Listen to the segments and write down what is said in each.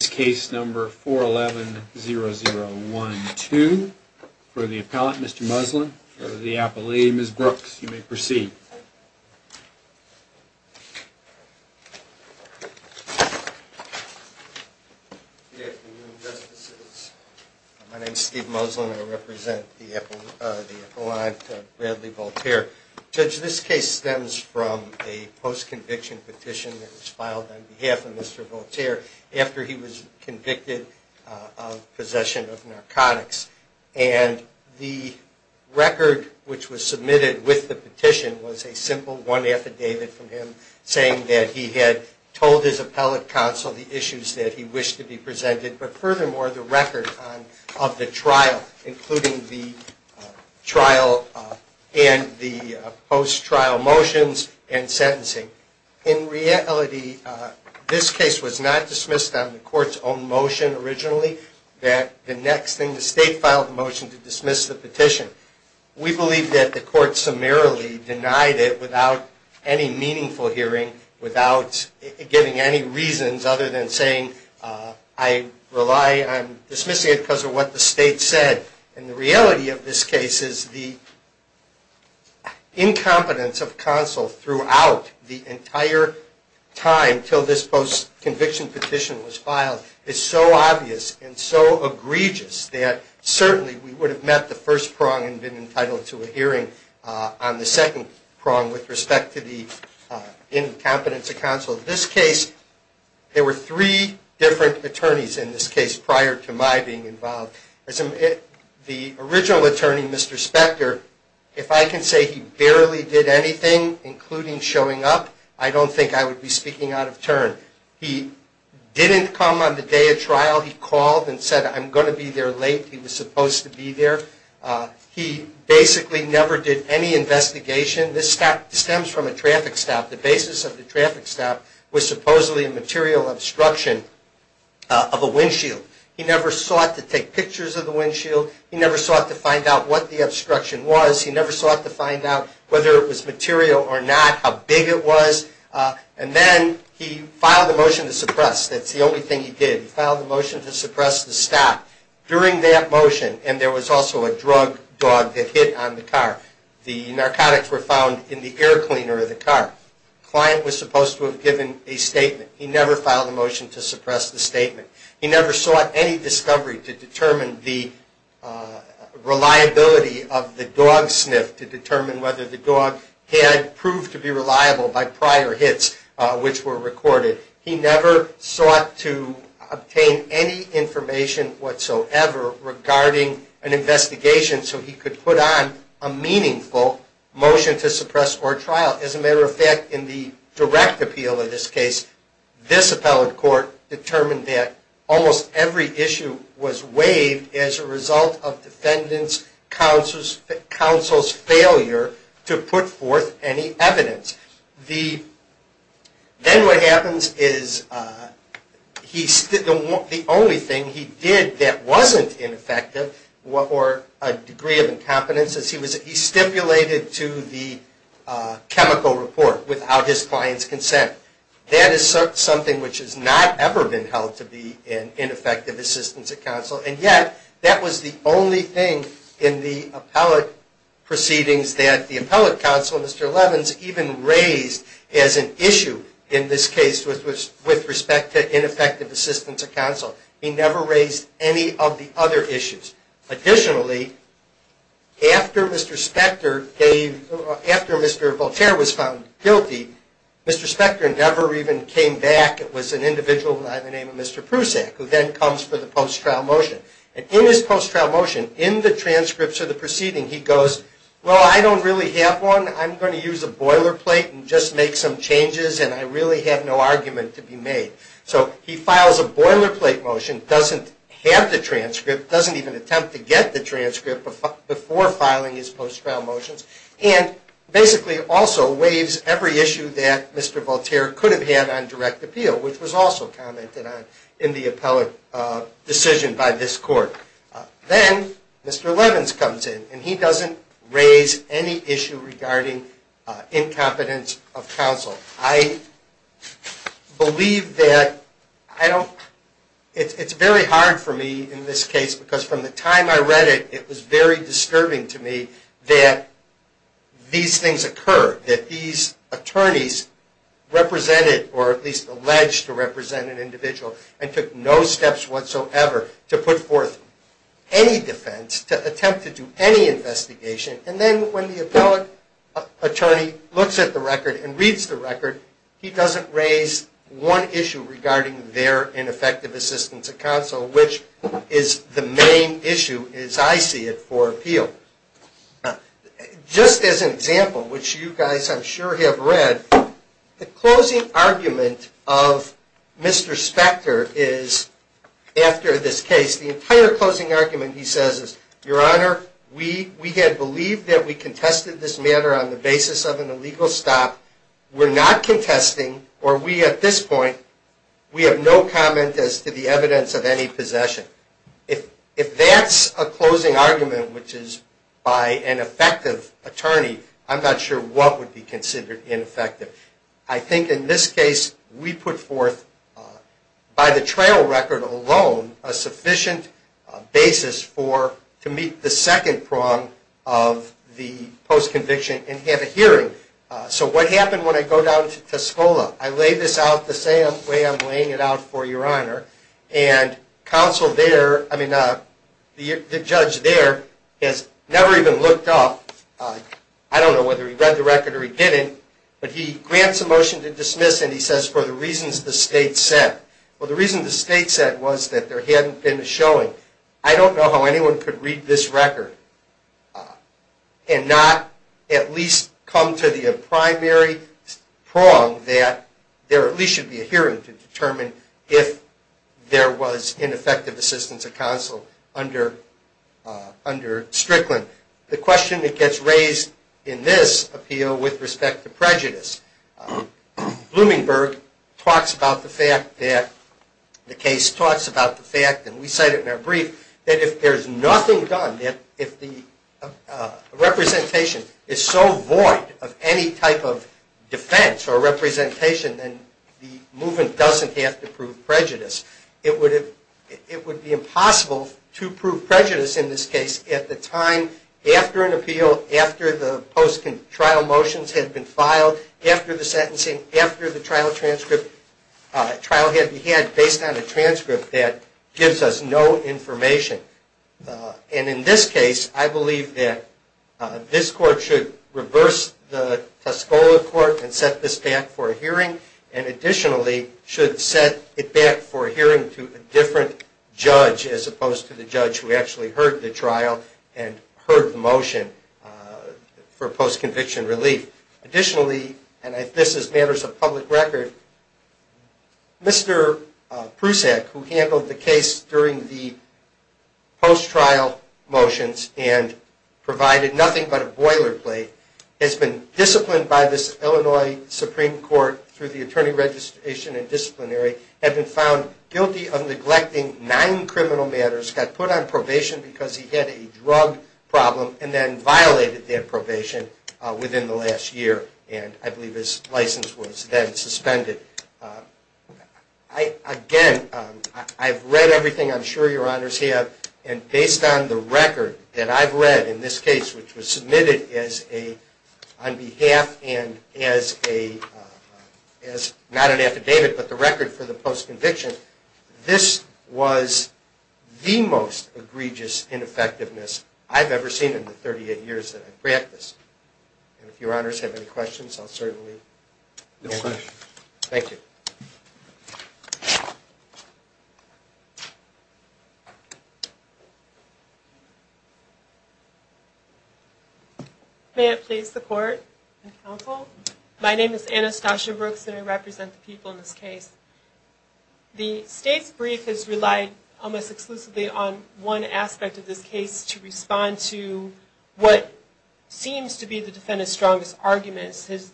This case number 4110012 for the appellant, Mr. Muslin, for the appellee, Ms. Brooks, you may proceed. My name is Steve Muslin. I represent the appellant, Bradley Voltaire. Judge, this case stems from a post-conviction petition that was filed on behalf of Mr. Voltaire after he was convicted of possession of narcotics. And the record which was submitted with the petition was a simple one affidavit from him saying that he had told his appellate counsel the issues that he wished to be presented. But furthermore, the record of the trial, including the trial and the post-trial motions and sentencing. In reality, this case was not dismissed on the court's own motion originally, that the next thing the state filed a motion to dismiss the petition. We believe that the court summarily denied it without any meaningful hearing, without giving any reasons other than saying I rely on dismissing it because of what the state said. And the reality of this case is the incompetence of counsel throughout the entire time until this post-conviction petition was filed is so obvious and so egregious that certainly we would have met the first prong and been entitled to a hearing on the second prong with respect to the incompetence of counsel. In this case, there were three different attorneys in this case prior to my being involved. The original attorney, Mr. Spector, if I can say he barely did anything, including showing up, I don't think I would be speaking out of turn. He didn't come on the day of trial. He called and said I'm going to be there late. He was supposed to be there. He basically never did any investigation. This stems from a traffic stop. The basis of the traffic stop was supposedly a material obstruction of a windshield. He never sought to take pictures of the windshield. He never sought to find out what the obstruction was. He never sought to find out whether it was material or not, how big it was. And then he filed a motion to suppress. That's the only thing he did. He filed a motion to suppress the stop. During that motion, and there was also a drug dog that hit on the car, the narcotics were found in the air cleaner of the car. The client was supposed to have given a statement. He never filed a motion to suppress the statement. He never sought any discovery to determine the reliability of the dog sniff, to determine whether the dog had proved to be reliable by prior hits which were recorded. He never sought to obtain any information whatsoever regarding an investigation so he could put on a meaningful motion to suppress or trial. As a matter of fact, in the direct appeal of this case, this appellate court determined that almost every issue was waived as a result of defendant's counsel's failure to put forth any evidence. Then what happens is the only thing he did that wasn't ineffective or a degree of incompetence is he stipulated to the chemical report without his client's consent. That is something which has not ever been held to be an ineffective assistance of counsel. And yet, that was the only thing in the appellate proceedings that the appellate counsel, Mr. Levins, even raised as an issue in this case with respect to ineffective assistance of counsel. He never raised any of the other issues. Additionally, after Mr. Voltaire was found guilty, Mr. Spector never even came back. It was an individual by the name of Mr. Prusak who then comes for the post-trial motion. In his post-trial motion, in the transcripts of the proceeding, he goes, Well, I don't really have one. I'm going to use a boilerplate and just make some changes and I really have no argument to be made. So he files a boilerplate motion, doesn't have the transcript, doesn't even attempt to get the transcript before filing his post-trial motions, and basically also waives every issue that Mr. Voltaire could have had on direct appeal, which was also commented on in the appellate decision by this court. Then Mr. Levins comes in and he doesn't raise any issue regarding incompetence of counsel. I believe that it's very hard for me in this case because from the time I read it, it was very disturbing to me that these things occur, that these attorneys represented or at least alleged to represent an individual and took no steps whatsoever to put forth any defense, to attempt to do any investigation, and then when the appellate attorney looks at the record and reads the record, he doesn't raise one issue regarding their ineffective assistance of counsel, which is the main issue, as I see it, for appeal. Just as an example, which you guys I'm sure have read, the closing argument of Mr. Spector is, after this case, the entire closing argument he says is, Your Honor, we had believed that we contested this matter on the basis of an illegal stop. We're not contesting, or we at this point, we have no comment as to the evidence of any possession. If that's a closing argument, which is by an effective attorney, I'm not sure what would be considered ineffective. I think in this case we put forth, by the trail record alone, a sufficient basis for, to meet the second prong of the post-conviction and have a hearing. So what happened when I go down to Tuscola? I lay this out the same way I'm laying it out for Your Honor, and counsel there, I mean the judge there, has never even looked up, I don't know whether he read the record or he didn't, but he grants a motion to dismiss and he says, For the reasons the state set. Well the reason the state set was that there hadn't been a showing. I don't know how anyone could read this record and not at least come to the primary prong that there at least should be a hearing to determine if there was ineffective assistance of counsel under Strickland. The question that gets raised in this appeal with respect to prejudice, Bloomingberg talks about the fact that, the case talks about the fact, and we cite it in our brief, that if there's nothing done, if the representation is so void of any type of defense or representation, then the movement doesn't have to prove prejudice. It would be impossible to prove prejudice in this case at the time after an appeal, after the post-trial motions had been filed, after the sentencing, after the trial transcript, trial had been had based on a transcript that gives us no information. And in this case I believe that this court should reverse the Tuscola court and set this back for a hearing and additionally should set it back for a hearing to a different judge as opposed to the judge who actually heard the trial and heard the motion for post-conviction relief. Additionally, and this is matters of public record, Mr. Prusak, who handled the case during the post-trial motions and provided nothing but a boilerplate, has been disciplined by this Illinois Supreme Court through the attorney registration and disciplinary, had been found guilty of neglecting nine criminal matters, got put on probation because he had a drug problem and then violated that probation within the last year and I believe his license was then suspended. Again, I've read everything, I'm sure your honors have, and based on the record that I've read in this case, which was submitted on behalf and as not an affidavit but the record for the post-conviction, this was the most egregious ineffectiveness I've ever seen in the 38 years that I've practiced. And if your honors have any questions I'll certainly answer them. No questions. Thank you. May I please support and counsel? My name is Anastasia Brooks and I represent the people in this case. The state's brief has relied almost exclusively on one aspect of this case to respond to what seems to be the defendant's strongest arguments, his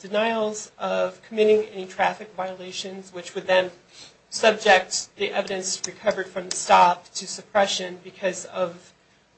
denials of committing any traffic violations which would then subject the evidence recovered from the stop to suppression because of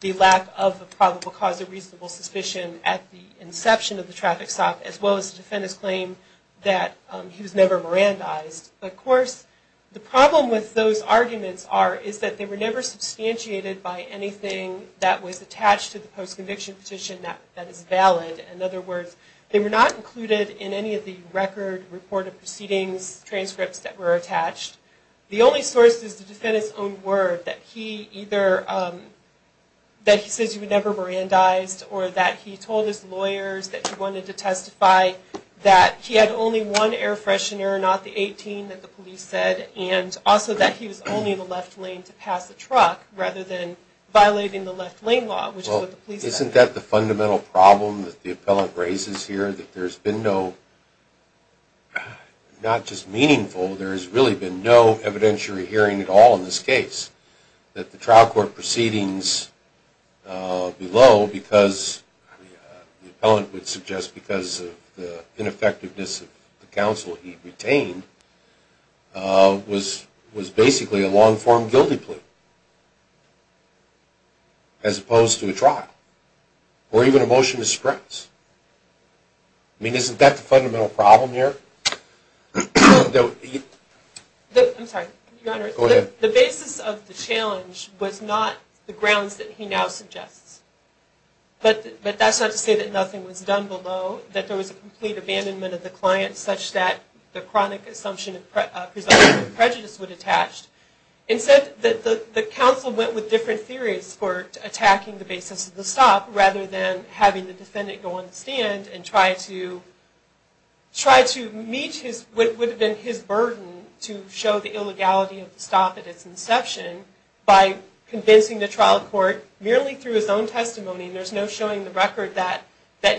the lack of a probable cause of reasonable suspicion at the inception of the traffic stop as well as the defendant's claim that he was never Mirandized. Of course, the problem with those arguments is that they were never substantiated by anything that was attached to the post-conviction petition that is valid. In other words, they were not included in any of the record, reported proceedings, transcripts that were attached. The only source is the defendant's own word that he says he was never Mirandized or that he told his lawyers that he wanted to testify that he had only one air freshener, not the 18 that the police said, and also that he was only in the left lane to pass the truck rather than violating the left lane law, which is what the police said. Well, isn't that the fundamental problem that the appellant raises here, that there's been no, not just meaningful, there's really been no evidentiary hearing at all in this case, that the trial court proceedings below, because the appellant would suggest because of the ineffectiveness of the counsel he retained, was basically a long-form guilty plea as opposed to a trial or even a motion to stress. I mean, isn't that the fundamental problem here? I'm sorry, Your Honor. Go ahead. The basis of the challenge was not the grounds that he now suggests. But that's not to say that nothing was done below, that there was a complete abandonment of the client such that the chronic assumption of presumption of prejudice would attach. Instead, the counsel went with different theories for attacking the basis of the stop rather than having the defendant go on the stand and try to meet what would have been his burden to show the illegality of the stop at its inception by convincing the trial court, merely through his own testimony, and there's no showing the record that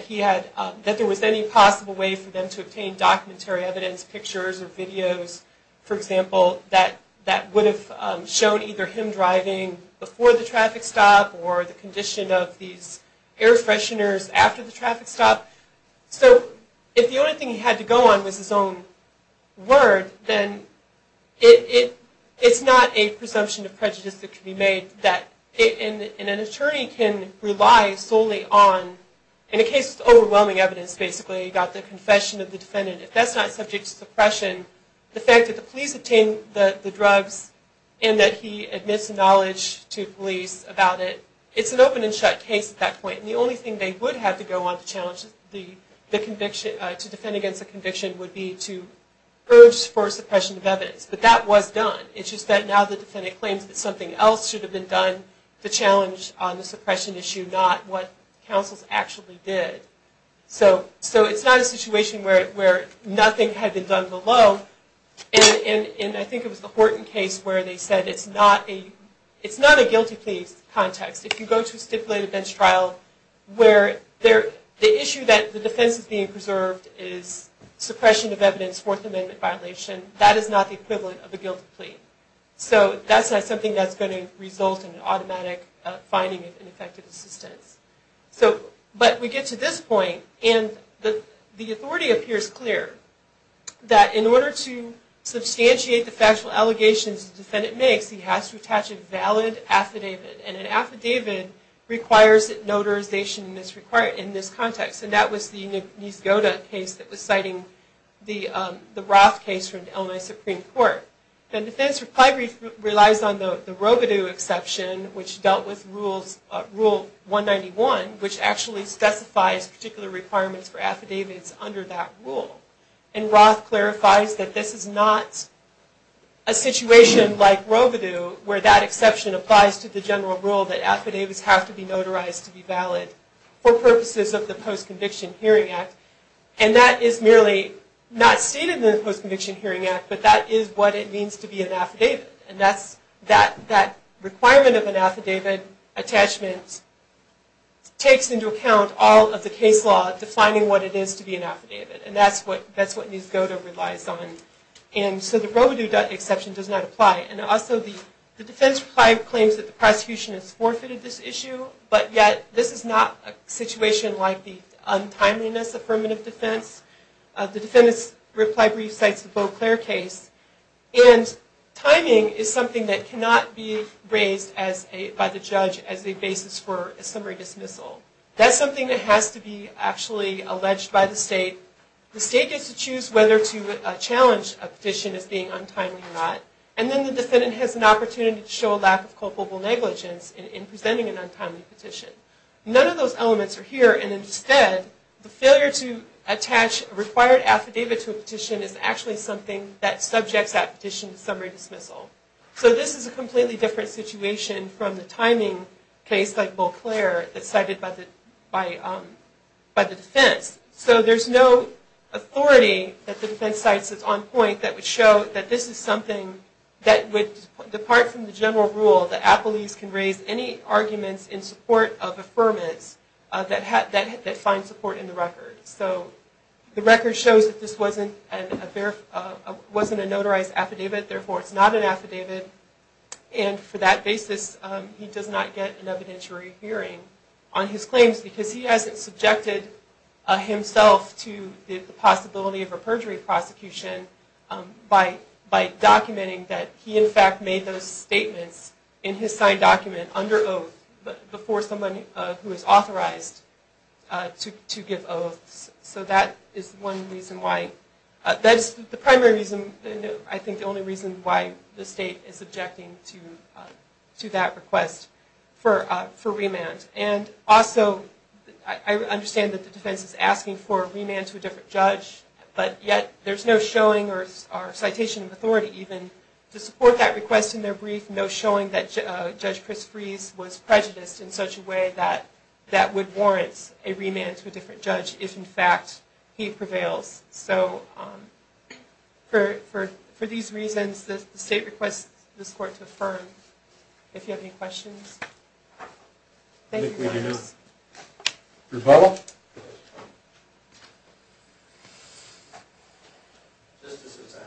he had, that there was any possible way for them to obtain documentary evidence, pictures or videos, for example, that would have shown either him driving before the traffic stop or the condition of these air fresheners after the traffic stop. So if the only thing he had to go on was his own word, then it's not a presumption of prejudice that can be made, and an attorney can rely solely on, in a case with overwhelming evidence basically, about the confession of the defendant. If that's not subject to suppression, the fact that the police obtained the drugs and that he admits knowledge to police about it, it's an open and shut case at that point, and the only thing they would have to go on to defend against the conviction would be to urge for suppression of evidence, but that was done. It's just that now the defendant claims that something else should have been done to challenge the suppression issue, not what counsels actually did. So it's not a situation where nothing had been done below, and I think it was the Horton case where they said it's not a guilty plea context. If you go to a stipulated bench trial where the issue that the defense is being preserved is suppression of evidence, Fourth Amendment violation, that is not the equivalent of a guilty plea. So that's not something that's going to result in an automatic finding of ineffective assistance. But we get to this point, and the authority appears clear, that in order to substantiate the factual allegations the defendant makes, he has to attach a valid affidavit, and an affidavit requires notarization in this context, and that was the Nice-Goda case that was citing the Roth case from Illinois Supreme Court. The defense reply relies on the Rovideau exception, which dealt with Rule 191, which actually specifies particular requirements for affidavits under that rule. And Roth clarifies that this is not a situation like Rovideau where that exception applies to the general rule that affidavits have to be notarized to be valid for purposes of the Post-Conviction Hearing Act, and that is merely not stated in the Post-Conviction Hearing Act, but that is what it means to be an affidavit, and that requirement of an affidavit attachment takes into account all of the case law defining what it is to be an affidavit, and that's what Nice-Goda relies on. And so the Rovideau exception does not apply, and also the defense reply claims that the prosecution has forfeited this issue, but yet this is not a situation like the untimeliness affirmative defense. The defendant's reply brief cites the Beauclair case, and timing is something that cannot be raised by the judge as a basis for a summary dismissal. That's something that has to be actually alleged by the state. The state gets to choose whether to challenge a petition as being untimely or not, and then the defendant has an opportunity to show a lack of culpable negligence in presenting an untimely petition. None of those elements are here, and instead the failure to attach a required affidavit to a petition is actually something that subjects that petition to summary dismissal. So this is a completely different situation from the timing case like Beauclair that's cited by the defense. So there's no authority that the defense cites that's on point that would show that this is something that would depart from the general rule that appellees can raise any arguments in support of affirmance that find support in the record. So the record shows that this wasn't a notarized affidavit, therefore it's not an affidavit, and for that basis he does not get an evidentiary hearing on his claims because he hasn't subjected himself to the possibility of a perjury prosecution by documenting that he in fact made those statements in his signed document under oath before someone who is authorized to give oaths. So that is the primary reason, and I think the only reason why the state is objecting to that request for remand. And also I understand that the defense is asking for a remand to a different judge, but yet there's no showing, or citation of authority even, to support that request in their brief, no showing that Judge Chris Freese was prejudiced in such a way that that would warrant a remand to a different judge if in fact he prevails. So for these reasons the state requests this court to affirm. If you have any questions. I think we do now. Rebuttal. Justices, I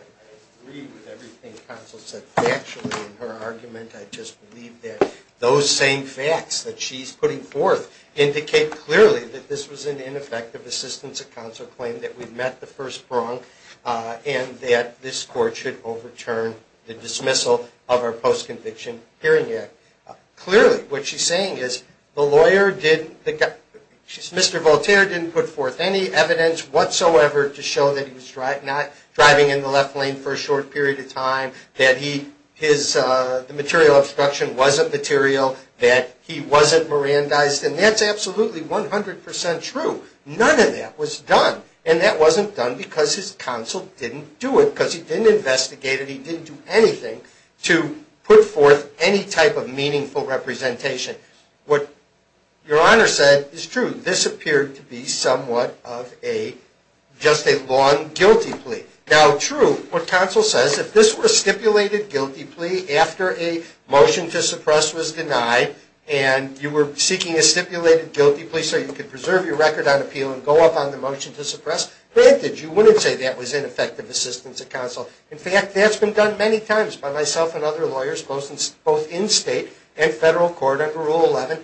agree with everything the counsel said factually in her argument. I just believe that those same facts that she's putting forth indicate clearly that this was an ineffective assistance of counsel claim, that we've met the first prong, and that this court should overturn the dismissal of our Post-Conviction Hearing Act. So clearly what she's saying is Mr. Voltaire didn't put forth any evidence whatsoever to show that he was not driving in the left lane for a short period of time, that the material obstruction wasn't material, that he wasn't Mirandized, and that's absolutely 100% true. None of that was done, and that wasn't done because his counsel didn't do it, because he didn't investigate it, because he didn't do anything to put forth any type of meaningful representation. What your Honor said is true. This appeared to be somewhat of just a long guilty plea. Now true, what counsel says, if this were a stipulated guilty plea after a motion to suppress was denied, and you were seeking a stipulated guilty plea so you could preserve your record on appeal and go up on the motion to suppress, granted you wouldn't say that was ineffective assistance of counsel. In fact, that's been done many times by myself and other lawyers, both in state and federal court under Rule 11,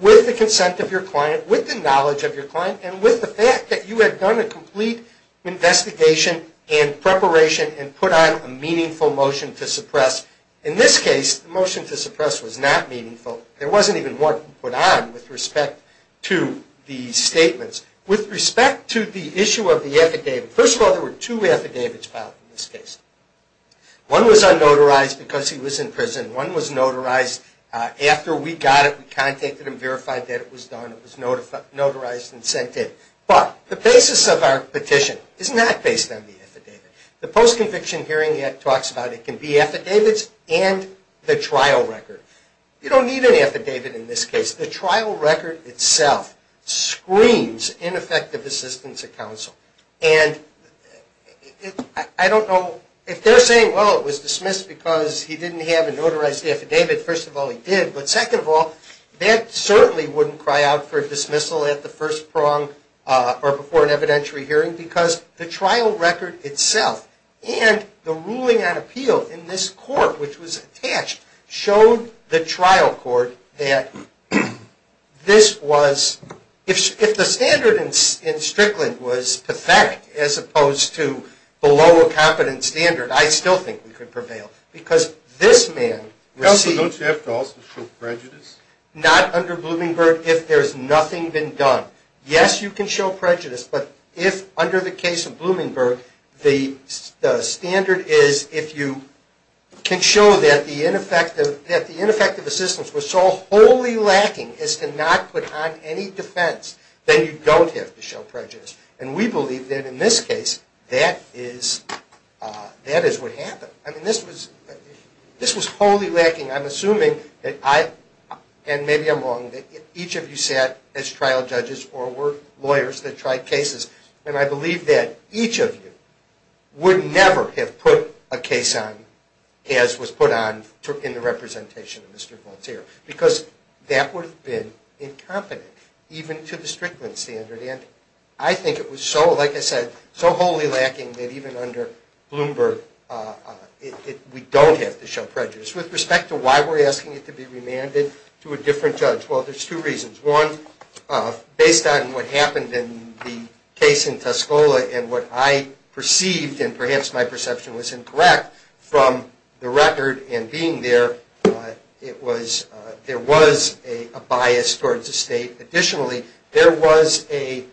with the consent of your client, with the knowledge of your client, and with the fact that you had done a complete investigation and preparation and put on a meaningful motion to suppress. In this case, the motion to suppress was not meaningful. There wasn't even one put on with respect to the statements. With respect to the issue of the affidavit, first of all, there were two affidavits filed in this case. One was unnotarized because he was in prison. One was notarized after we got it, we contacted him, verified that it was done. It was notarized and sent in. But the basis of our petition is not based on the affidavit. The Post-Conviction Hearing Act talks about it can be affidavits and the trial record. You don't need an affidavit in this case. The trial record itself screams ineffective assistance of counsel. And I don't know if they're saying, well, it was dismissed because he didn't have a notarized affidavit. First of all, he did. But second of all, that certainly wouldn't cry out for dismissal at the first prong or before an evidentiary hearing because the trial record itself and the ruling on appeal in this court, which was attached, showed the trial court that this was, if the standard in Strickland was perfect as opposed to below a competent standard, I still think we could prevail because this man received. Counsel, don't you have to also show prejudice? Not under Bloomingbird if there's nothing been done. Yes, you can show prejudice, but if under the case of Bloomingbird, the standard is if you can show that the ineffective assistance was so wholly lacking as to not put on any defense, then you don't have to show prejudice. And we believe that in this case, that is what happened. I mean, this was wholly lacking. I'm assuming that I, and maybe I'm wrong, that each of you sat as trial judges or were lawyers that tried cases. And I believe that each of you would never have put a case on as was put on in the representation of Mr. Volterra because that would have been incompetent, even to the Strickland standard. And I think it was so, like I said, so wholly lacking that even under Bloomingbird, we don't have to show prejudice. With respect to why we're asking it to be remanded to a different judge, well, there's two reasons. One, based on what happened in the case in Tuscola and what I perceived and perhaps my perception was incorrect from the record in being there, it was, there was a bias towards the state. Additionally, there was a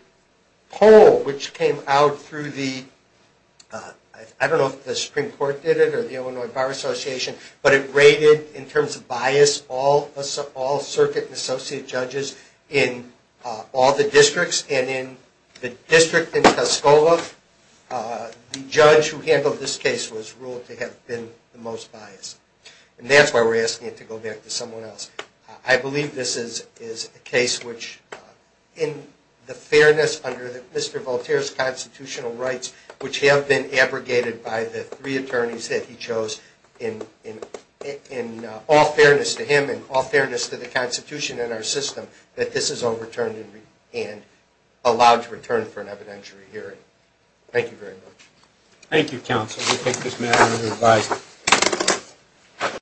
poll which came out through the, I don't know if the Supreme Court did it or the Illinois Bar Association, but it rated in terms of bias all circuit and associate judges in all the districts. And in the district in Tuscola, the judge who handled this case was ruled to have been the most biased. And that's why we're asking it to go back to someone else. I believe this is a case which, in the fairness under Mr. Volterra's constitutional rights, which have been abrogated by the three attorneys that he chose in all fairness to him and all fairness to the Constitution and our system, that this is overturned and allowed to return for an evidentiary hearing. Thank you very much. Thank you, counsel. We take this matter under advice.